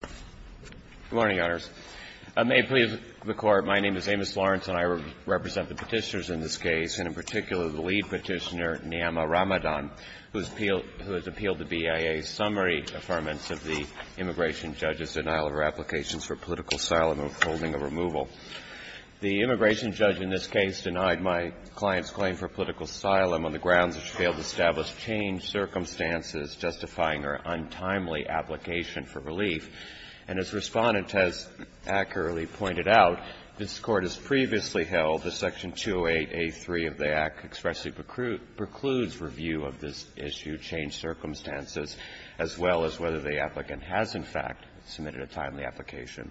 Good morning, Your Honors. May it please the Court, my name is Amos Lawrence and I represent the Petitioners in this case, and in particular the lead Petitioner, Niyama Ramadan, who has appealed the BIA's summary affirmance of the immigration judge's denial of her applications for political asylum and withholding a removal. The immigration judge in this case denied my client's claim for political asylum on the grounds that she failed to establish changed circumstances justifying her untimely application for relief. And as Respondent has accurately pointed out, this Court has previously held that Section 208a3 of the Act expressly precludes review of this issue, changed circumstances, as well as whether the applicant has, in fact, submitted a timely application.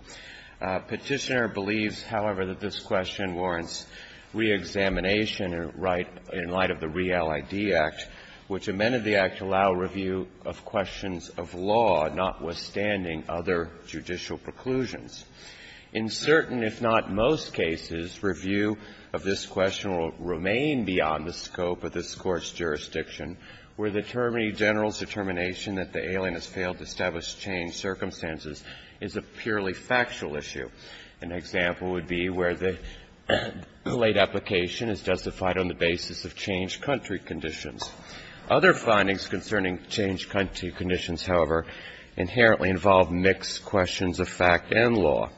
Petitioner believes, however, that this question warrants reexamination in light of the REAL ID Act, which amended the Act to allow review of questions of law, notwithstanding other judicial preclusions. In certain, if not most cases, review of this question will remain beyond the scope of this Court's jurisdiction where the Attorney General's determination that the alien has failed to establish changed circumstances is a purely factual issue. An example would be where the late application is justified on the basis of changed country conditions. Other findings concerning changed country conditions, however, inherently involve mixed questions of fact and law,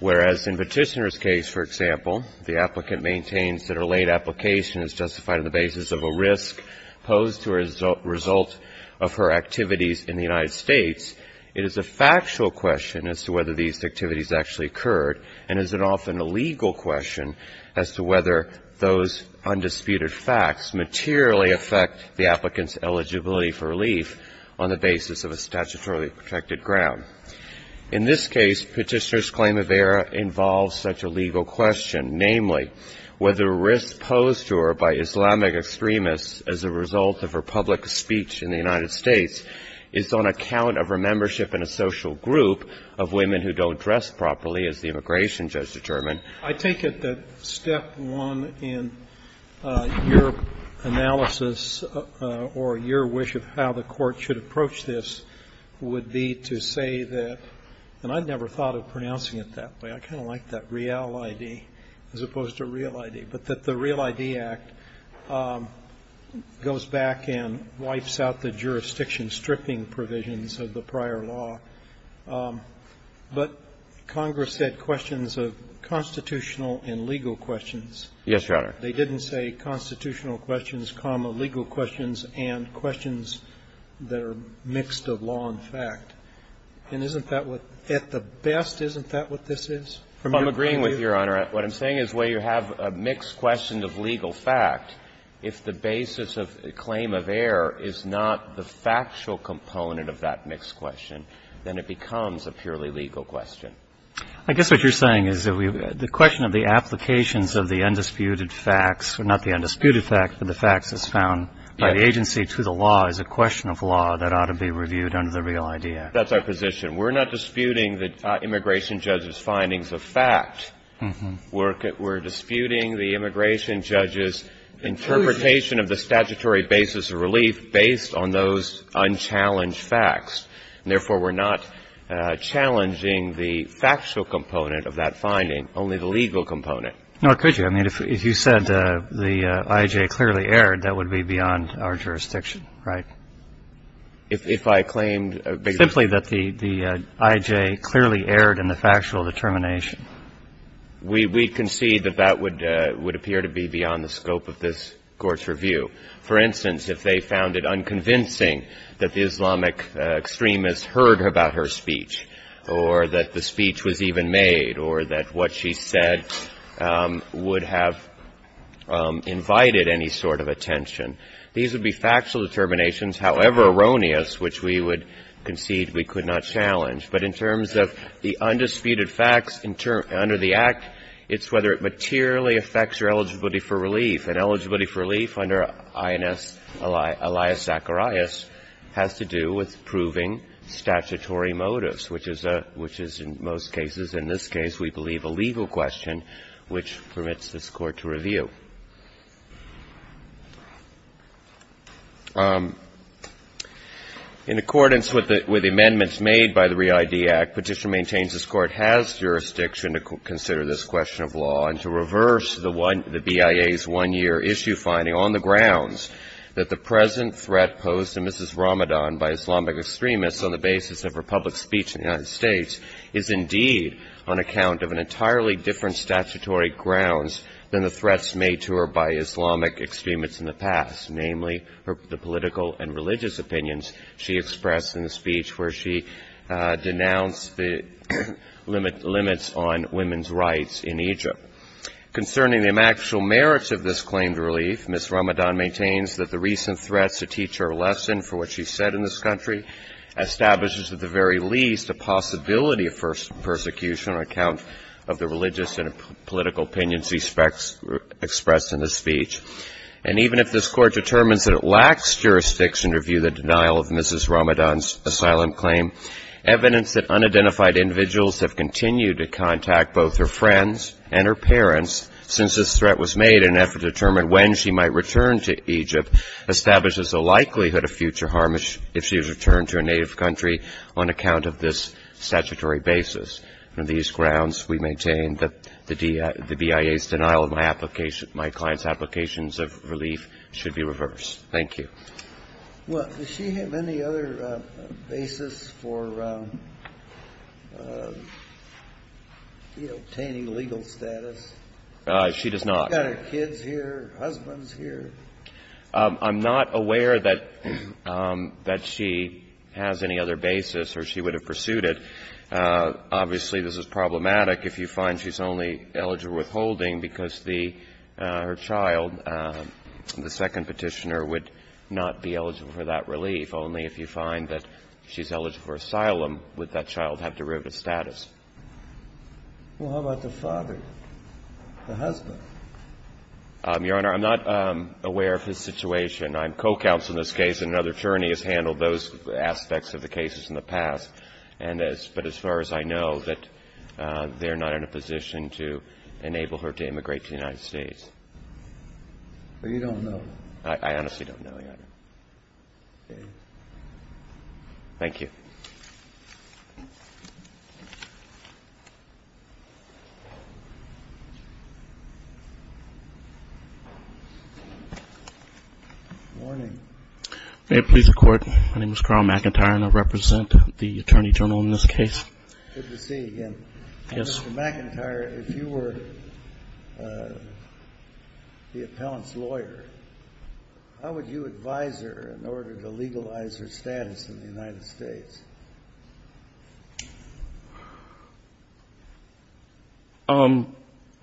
whereas in Petitioner's case, for example, the applicant maintains that her late application is justified on the basis of a risk posed to her as a result of her activities in the United States. It is a factual question as to whether these activities actually occurred and is it often a legal question as to whether those undisputed facts materially affect the applicant's eligibility for relief on the basis of a statutorily protected ground. In this case, Petitioner's claim of error involves such a legal question, namely, whether risk posed to her by Islamic extremists as a result of her public speech in the United States is on account of her membership in a social group of non-Islamic extremists. And so, in this case, Petitioner's claim of error involves such a legal question as to whether risk posed to her by Islamic extremists as a result of her public speech in the United States is on account of her membership in a social group of non-Islamic extremists as a result of her public speech in the United States. Roberts. But Congress said questions of constitutional and legal questions. Yes, Your Honor. They didn't say constitutional questions, legal questions, and questions that are mixed of law and fact. And isn't that what at the best, isn't that what this is? I'm agreeing with you, Your Honor. What I'm saying is where you have a mixed question of legal fact, if the basis of claim of error is not the factual component of that mixed question, then it becomes a purely legal question. I guess what you're saying is that the question of the applications of the undisputed facts, or not the undisputed facts, but the facts as found by the agency to the law, is a question of law that ought to be reviewed under the real idea. That's our position. We're not disputing the immigration judge's findings of fact. We're disputing the immigration judge's interpretation of the statutory basis of relief based on those unchallenged facts. Therefore, we're not challenging the factual component of that finding, only the legal component. No, could you? I mean, if you said the I.J. clearly erred, that would be beyond our jurisdiction, right? If I claimed a bigger... We concede that that would appear to be beyond the scope of this Court's review. For instance, if they found it unconvincing that the Islamic extremist heard about her speech, or that the speech was even made, or that what she said would have invited any sort of attention, these would be factual determinations, however erroneous, which we would concede we could not challenge. But in terms of the undisputed facts under the Act, it's whether it materially affects your eligibility for relief. And eligibility for relief under I.N.S. Elias Zacharias has to do with proving statutory motives, which is in most cases, in this case, we believe a legal question which permits this Court to review. In accordance with the amendments made by the ReID Act, Petition maintains this Court has jurisdiction to consider this question of law and to reverse the BIA's one-year issue finding on the grounds that the present threat posed to Mrs. Ramadan by Islamic extremists on the basis of her public speech in the United States is indeed on account of an entirely different statutory grounds than the threats made to her by Islamic extremists in the past, namely, the political and religious opinions she expressed in the speech where she denounced the limits on women's rights in Egypt. Concerning the actual merits of this claim to relief, Mrs. Ramadan maintains that the recent threats to teach her a lesson for what she said in this country establishes at the very least a possibility of persecution on account of the religious and political opinions she expressed in the speech. And even if this Court determines that it lacks jurisdiction to review the denial of Mrs. Ramadan's asylum claim, evidence that unidentified individuals have continued to contact both her friends and her parents since this threat was made in an effort to determine when she might return to Egypt establishes a likelihood of future harm if she is returned to a native country on account of this statutory basis. On these grounds, we maintain that the BIA's denial of my client's applications of relief should be reversed. Thank you. Well, does she have any other basis for obtaining legal status? She does not. She's got her kids here, her husband's here. I'm not aware that she has any other basis or she would have pursued it. Obviously, this is problematic if you find she's only eligible for withholding because her child, the second Petitioner, would not be eligible for that relief. Only if you find that she's eligible for asylum would that child have derivative status. Your Honor, I'm not aware of his situation. I'm co-counsel in this case, and another attorney has handled those aspects of the cases in the past, but as far as I know, they're not in a position to enable her to immigrate to the United States. But you don't know? I honestly don't know, Your Honor. Okay. Thank you. Good morning. May it please the Court, my name is Carl McIntyre, and I represent the Attorney General in this case. Good to see you again. Yes. Mr. McIntyre, if you were the appellant's lawyer, how would you advise her in order to legalize her status in the United States?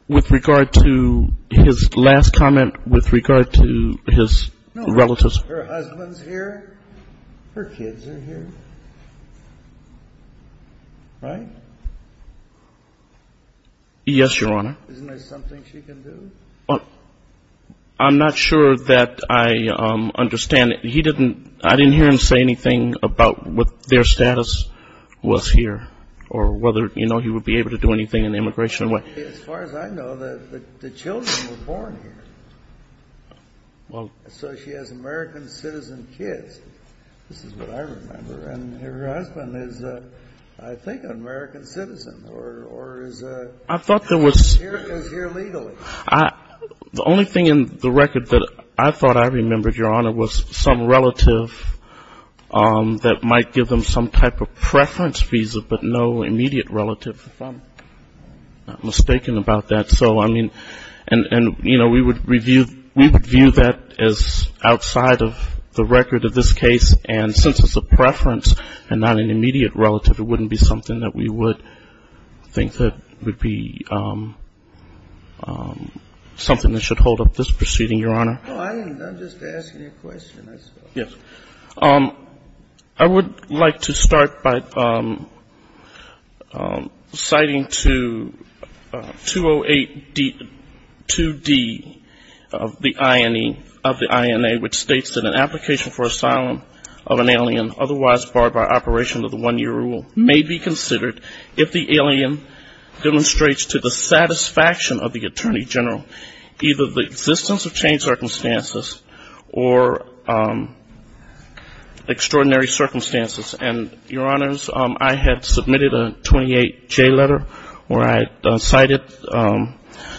With regard to his last comment, with regard to his relatives. No, her husband's here, her kids are here, right? Yes, Your Honor. Isn't there something she can do? I'm not sure that I understand. He didn't, I didn't hear him say anything about what her status was here or whether, you know, he would be able to do anything in the immigration way. As far as I know, the children were born here. Well. So she has American citizen kids, this is what I remember, and her husband is, I think, an American citizen or is here legally. I thought there was, the only thing in the record that I thought I remembered, Your Honor, was some relative that might give them some type of preference visa, but no immediate relative. If I'm not mistaken about that. So, I mean, and, you know, we would review that as outside of the record of this case, and since it's a preference and not an immediate relative, it wouldn't be something that we would think that would be something that should hold up this proceeding, Your Honor. No, I'm just asking a question. Yes. I would like to start by citing to 208-2D of the INA, which states that an application for asylum of an alien otherwise barred by operation of the 1-year rule may be considered if the alien demonstrates to the satisfaction of the Attorney General either the existence of chain circumstances or extraordinary circumstances. And, Your Honors, I had submitted a 28-J letter where I cited the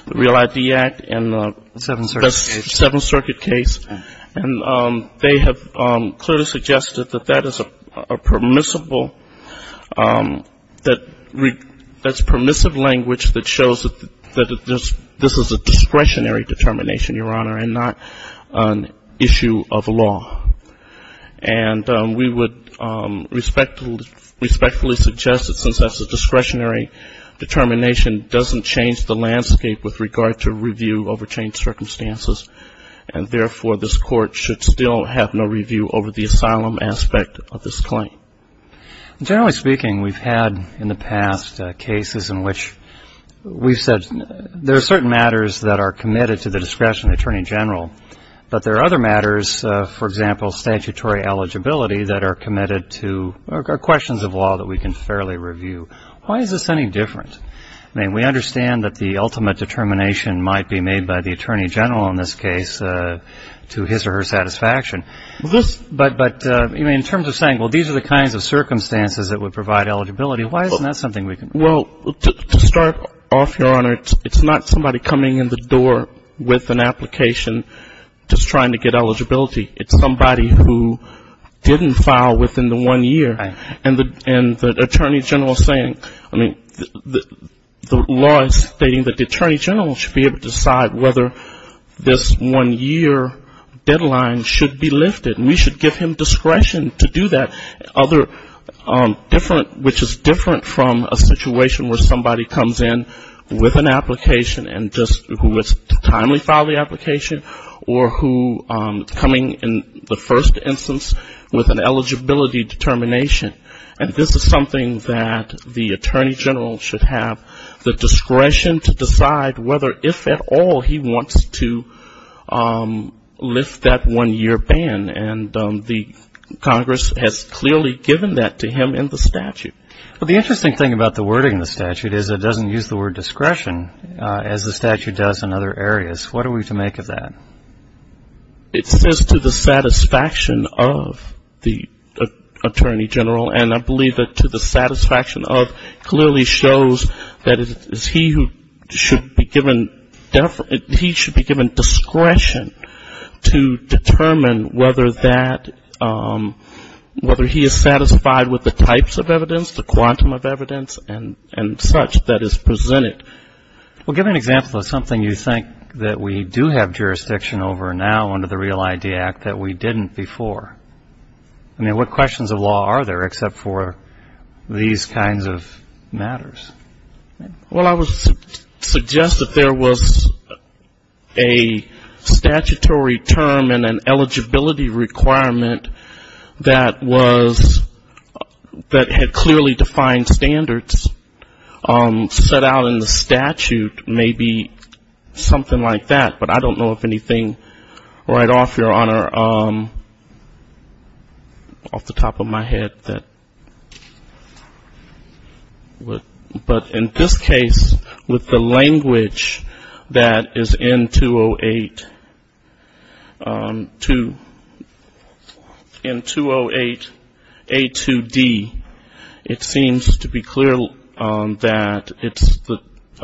Real ID Act and the Seventh Circuit case, and they have clearly suggested that that is a permissible that's permissive language that shows that this is a discretionary determination, Your Honor, and not an issue of law. And we would respectfully suggest that since that's a discretionary determination, doesn't change the landscape with regard to review over chain circumstances, and, therefore, this Court should still have no review over the asylum aspect of this claim. Generally speaking, we've had in the past cases in which we've said there are certain matters that are committed to the discretion of the Attorney General, but there are other matters, for example, statutory eligibility, that are committed to questions of law that we can fairly review. Why is this any different? I mean, we understand that the ultimate determination might be made by the Attorney General in this case to his or her satisfaction. But in terms of saying, well, these are the kinds of circumstances that would provide eligibility, why isn't that something we can do? Well, to start off, Your Honor, it's not somebody coming in the door with an application just trying to get eligibility. It's somebody who didn't file within the one year. Right. And the Attorney General is saying, I mean, the law is stating that the Attorney General should be able to decide whether this one-year deadline should be lifted, and we should give him discretion to do that. Other different, which is different from a situation where somebody comes in with an application and just who is to timely file the application, or who is coming in the first instance with an eligibility determination. And this is something that the Attorney General should have the discretion to decide whether, if at all, he wants to lift that one-year ban. And the Congress has clearly given that to him in the statute. Well, the interesting thing about the wording in the statute is it doesn't use the word discretion, as the statute does in other areas. What are we to make of that? It says to the satisfaction of the Attorney General, and I believe that to the satisfaction of clearly shows that it is he who should be given discretion to determine whether he is satisfied with the types of evidence, the quantum of evidence, and such that is presented. Well, give me an example of something you think that we do have jurisdiction over now under the REAL ID Act that we didn't before. I mean, what questions of law are there except for these kinds of matters? Well, I would suggest that there was a statutory term and an eligibility requirement that was, that had clearly defined standards set out in the statute, maybe something like that. But I don't know of anything right off, Your Honor, off the top of my head that would. But in this case, with the language that is in 208A2D, it seems to be clear that it's a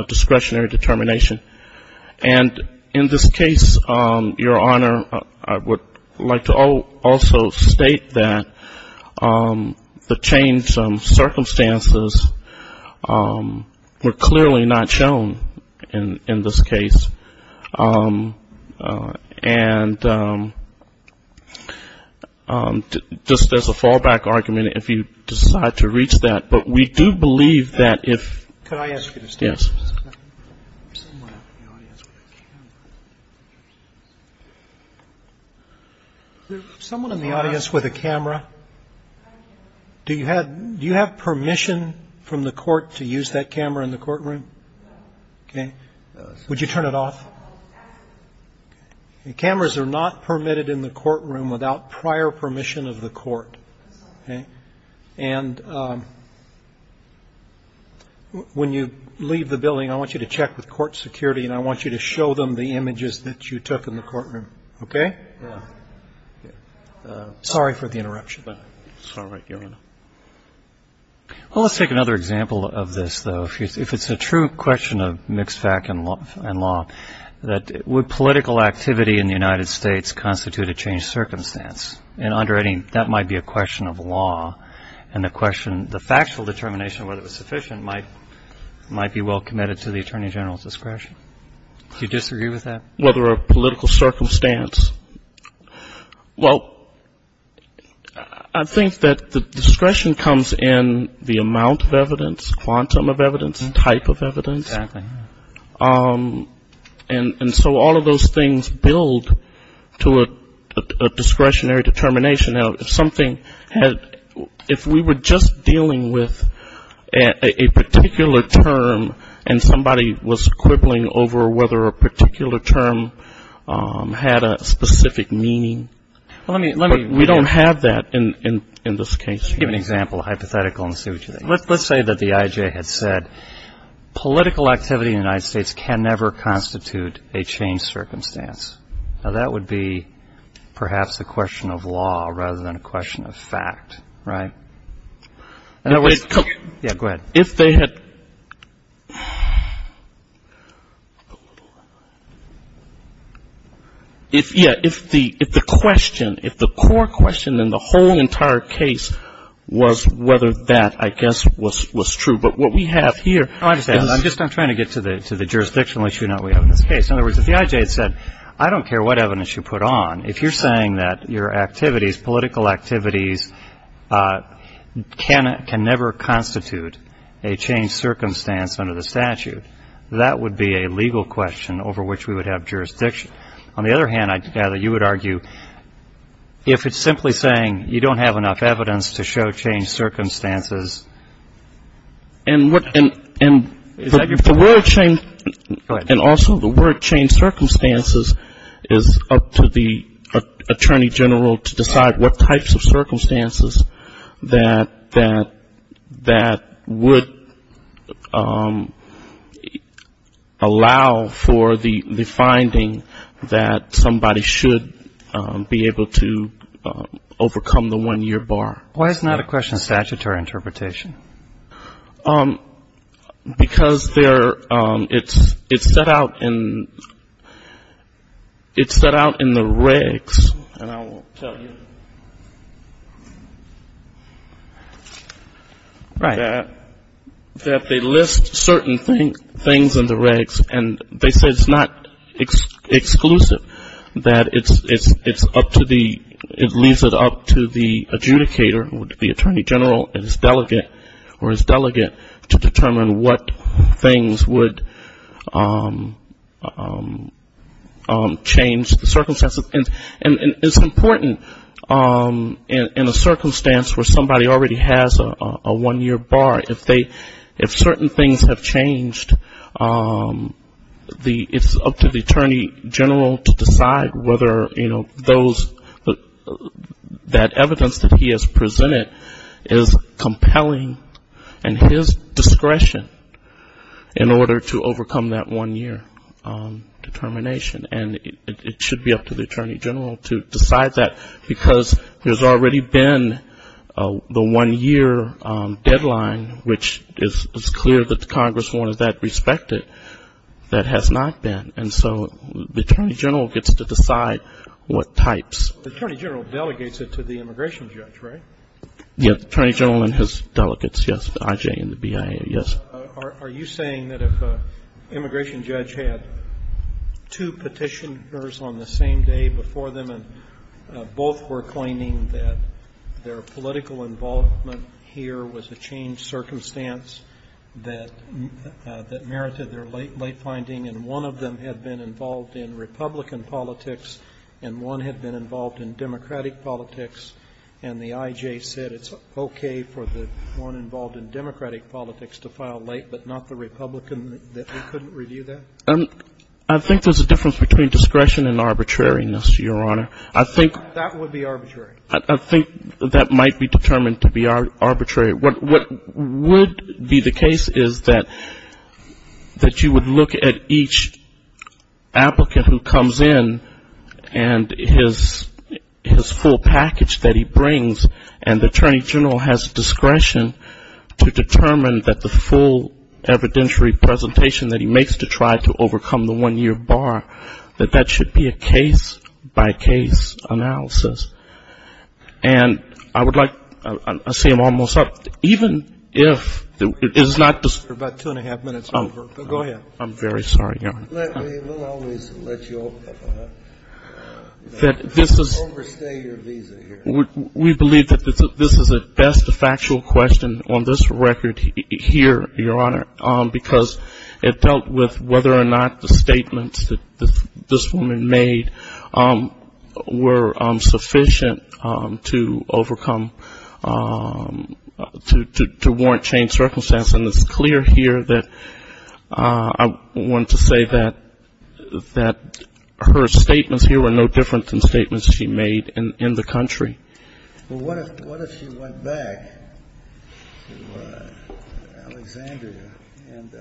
discretionary determination. And in this case, Your Honor, I would like to also state that the changed circumstances were clearly not shown in this case. And just as a fallback argument, if you decide to reach that, but we do believe that if. Could I ask you to stand? Yes. Someone in the audience with a camera. Do you have do you have permission from the court to use that camera in the courtroom? OK, would you turn it off? Cameras are not permitted in the courtroom without prior permission of the court. And when you leave the building, I want you to check with court security, and I want you to show them the images that you took in the courtroom. OK? Sorry for the interruption. It's all right, Your Honor. Well, let's take another example of this, though. If it's a true question of mixed fact and law, that would political activity in the United States constitute a changed circumstance? That might be a question of law, and the question, the factual determination of whether it was sufficient might be well committed to the attorney general's discretion. Do you disagree with that? Whether a political circumstance? Well, I think that the discretion comes in the amount of evidence, quantum of evidence, type of evidence. Exactly. And so all of those things build to a discretionary determination. Now, if we were just dealing with a particular term and somebody was quibbling over whether a particular term had a specific meaning, we don't have that in this case. Give an example, hypothetical, and see what you think. Let's say that the I.J. had said political activity in the United States can never constitute a changed circumstance. Now, that would be perhaps a question of law rather than a question of fact, right? Yeah, go ahead. If they had, yeah, if the question, if the core question in the whole entire case was whether that, I guess, was true. But what we have here is. I'm just trying to get to the jurisdictional issue now we have in this case. In other words, if the I.J. had said, I don't care what evidence you put on, if you're saying that your activities, political activities, can never constitute a changed circumstance under the statute, that would be a legal question over which we would have jurisdiction. On the other hand, I gather you would argue if it's simply saying you don't have enough evidence to show changed circumstances. And what, and the word changed. Go ahead. And also the word changed circumstances is up to the attorney general to decide what types of circumstances that would allow for the finding that somebody should be able to overcome the one year bar. Why is it not a question of statutory interpretation? Because there, it's set out in, it's set out in the regs, and I will tell you. Right. That they list certain things in the regs, and they say it's not exclusive, that it's up to the, it leaves it up to the adjudicator, the attorney general and his delegate, or his delegate to determine what things would change the circumstances. And it's important in a circumstance where somebody already has a one year bar, if they, if certain things have changed, it's up to the attorney general to decide whether, you know, those, that evidence that he has presented is compelling in his discretion in order to overcome that one year determination. And it should be up to the attorney general to decide that, because there's already been the one year deadline, which is clear that the Congress wanted that respected, that has not been. And so the attorney general gets to decide what types. The attorney general delegates it to the immigration judge, right? Yes, the attorney general and his delegates, yes, the IJ and the BIA, yes. Roberts. Are you saying that if an immigration judge had two Petitioners on the same day before them, and both were claiming that their political involvement here was a changed circumstance that merited their late finding, and one of them had been involved in Republican politics and one had been involved in Democratic politics, and the IJ said it's okay for the one involved in Democratic politics to file late but not the Republican, that they couldn't review that? I think there's a difference between discretion and arbitrariness, Your Honor. I think that would be arbitrary. I think that might be determined to be arbitrary. What would be the case is that you would look at each applicant who comes in and his full package that he brings, and the attorney general has discretion to determine that the full evidentiary presentation that he makes to try to overcome the one-year bar, that that should be a case-by-case analysis. And I would like to say I'm almost up. Even if it is not the ---- We're about two and a half minutes over. Go ahead. I'm very sorry, Your Honor. We'll always let you overstay your visa here. We believe that this is at best a factual question on this record here, Your Honor, because it dealt with whether or not the statements that this woman made were sufficient to overcome, to warrant changed circumstances. And it's clear here that I want to say that her statements here were no different than statements she made in the country. Well, what if she went back to Alexandria, and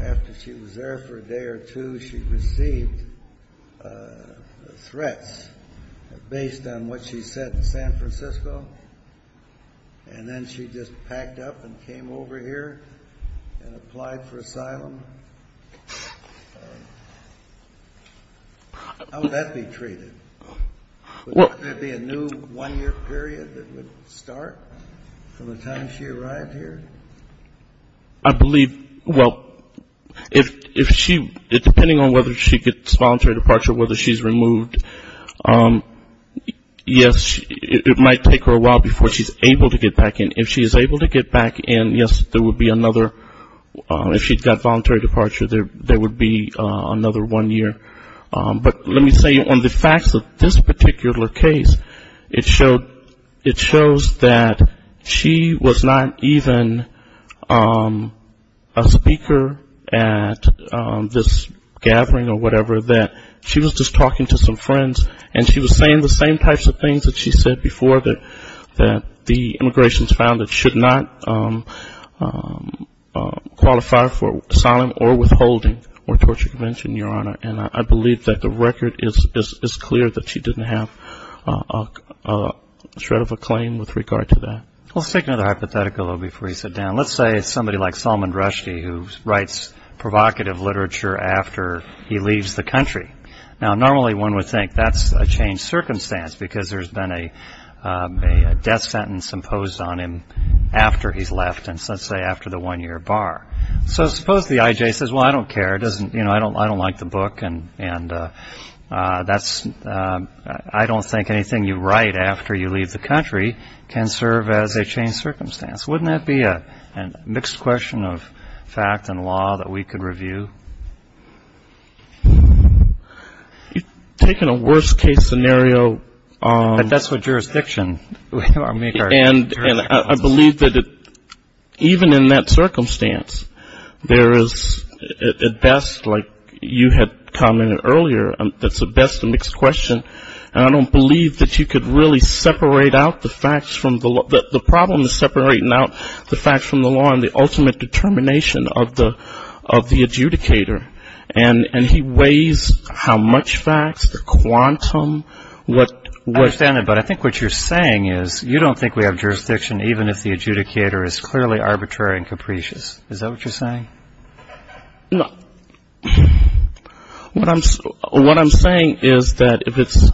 after she was there for a day or two, she received threats based on what she said in San Francisco, and then she just packed up and came over here and applied for asylum? How would that be treated? Would there be a new one-year period that would start from the time she arrived here? I believe, well, if she, depending on whether she gets voluntary departure, whether she's removed, yes, it might take her a while before she's able to get back in. If she is able to get back in, yes, there would be another, if she got voluntary departure, there would be another one year. But let me say on the facts of this particular case, it shows that she was not even a speaker at this gathering or whatever, that she was just talking to some friends, and she was saying the same types of things that she said before, that the Immigrations Foundation should not qualify for asylum or withholding or torture convention, Your Honor. And I believe that the record is clear that she didn't have a shred of a claim with regard to that. Let's take another hypothetical before we sit down. Let's say it's somebody like Salman Rushdie who writes provocative literature after he leaves the country. Now, normally one would think that's a changed circumstance because there's been a death sentence imposed on him after he's left, and let's say after the one-year bar. So suppose the IJ says, well, I don't care, I don't like the book, and I don't think anything you write after you leave the country can serve as a changed circumstance. Wouldn't that be a mixed question of fact and law that we could review? You've taken a worst-case scenario. That's the jurisdiction. And I believe that even in that circumstance, there is at best, like you had commented earlier, that's at best a mixed question, and I don't believe that you could really separate out the facts from the law. The problem is separating out the facts from the law and the ultimate determination of the adjudicator. And he weighs how much facts, the quantum, what — I understand that, but I think what you're saying is you don't think we have jurisdiction even if the adjudicator is clearly arbitrary and capricious. Is that what you're saying? No. What I'm saying is that if it's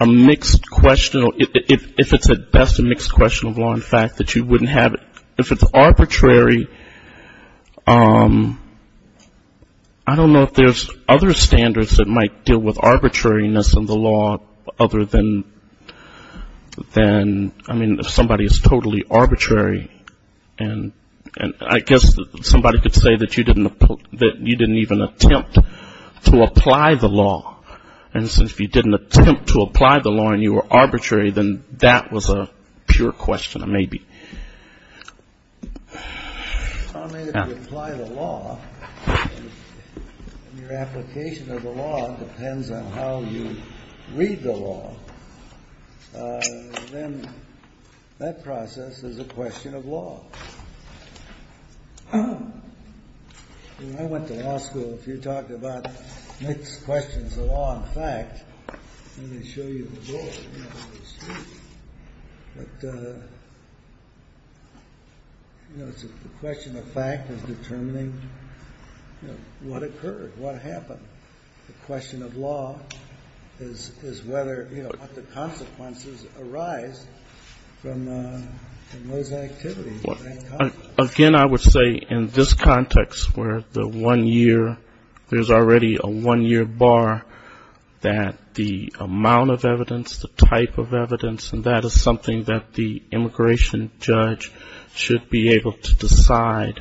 a mixed question or if it's at best a mixed question of law and fact, that you wouldn't have it. If it's arbitrary, I don't know if there's other standards that might deal with arbitrariness in the law other than, I mean, if somebody is totally arbitrary, and I guess somebody could say that you didn't even attempt to apply the law. And since you didn't attempt to apply the law and you were arbitrary, then that was a pure question of maybe. I mean, if you apply the law and your application of the law depends on how you read the law, then that process is a question of law. I mean, I went to law school. If you talked about mixed questions of law and fact, let me show you the board. But, you know, it's a question of fact of determining, you know, what occurred, what happened. The question of law is whether, you know, what the consequences arise from those activities. Again, I would say in this context where the one-year, there's already a one-year bar, that the amount of evidence, the type of evidence, and that is something that the immigration judge should be able to decide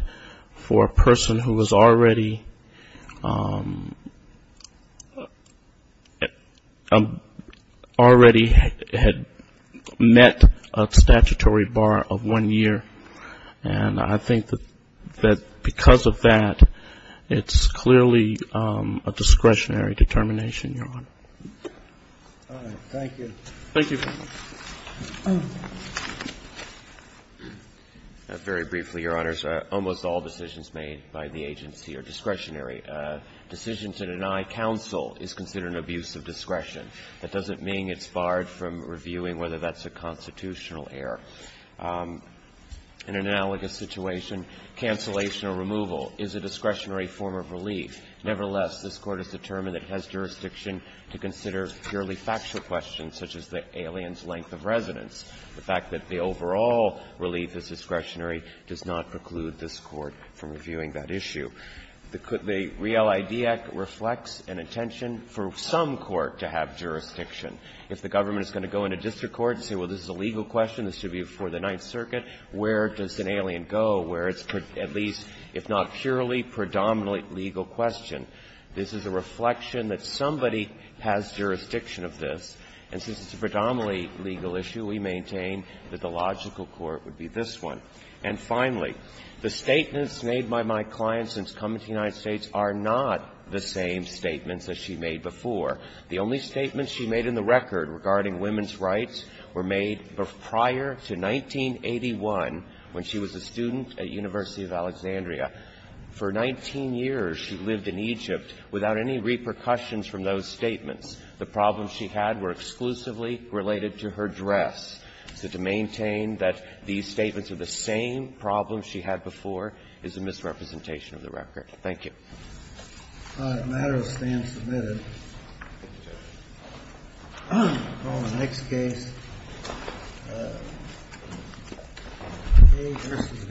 for a person who has already met a statutory bar of one year. And I think that because of that, it's clearly a discretionary determination, Your Honor. All right. Thank you. Thank you. Very briefly, Your Honors. Almost all decisions made by the agency are discretionary. A decision to deny counsel is considered an abuse of discretion. That doesn't mean it's barred from reviewing whether that's a constitutional error. In an analogous situation, cancellation or removal is a discretionary form of relief. Nevertheless, this Court has determined it has jurisdiction to consider purely factual questions, such as the alien's length of residence. The fact that the overall relief is discretionary does not preclude this Court from reviewing that issue. The Real ID Act reflects an intention for some court to have jurisdiction. If the government is going to go into district court and say, well, this is a legal question, this should be before the Ninth Circuit, where does an alien go where it's at least, if not purely, predominantly legal question. This is a reflection that somebody has jurisdiction of this. And since it's a predominantly legal issue, we maintain that the logical court would be this one. And finally, the statements made by my client since coming to the United States are not the same statements that she made before. The only statements she made in the record regarding women's rights were made prior to 1981, when she was a student at University of Alexandria. For 19 years, she lived in Egypt without any repercussions from those statements. The problems she had were exclusively related to her dress. So to maintain that these statements are the same problems she had before is a misrepresentation of the record. Thank you. All right. A matter of stance submitted. Thank you, Judge. We'll call the next case, A v. Gonzales.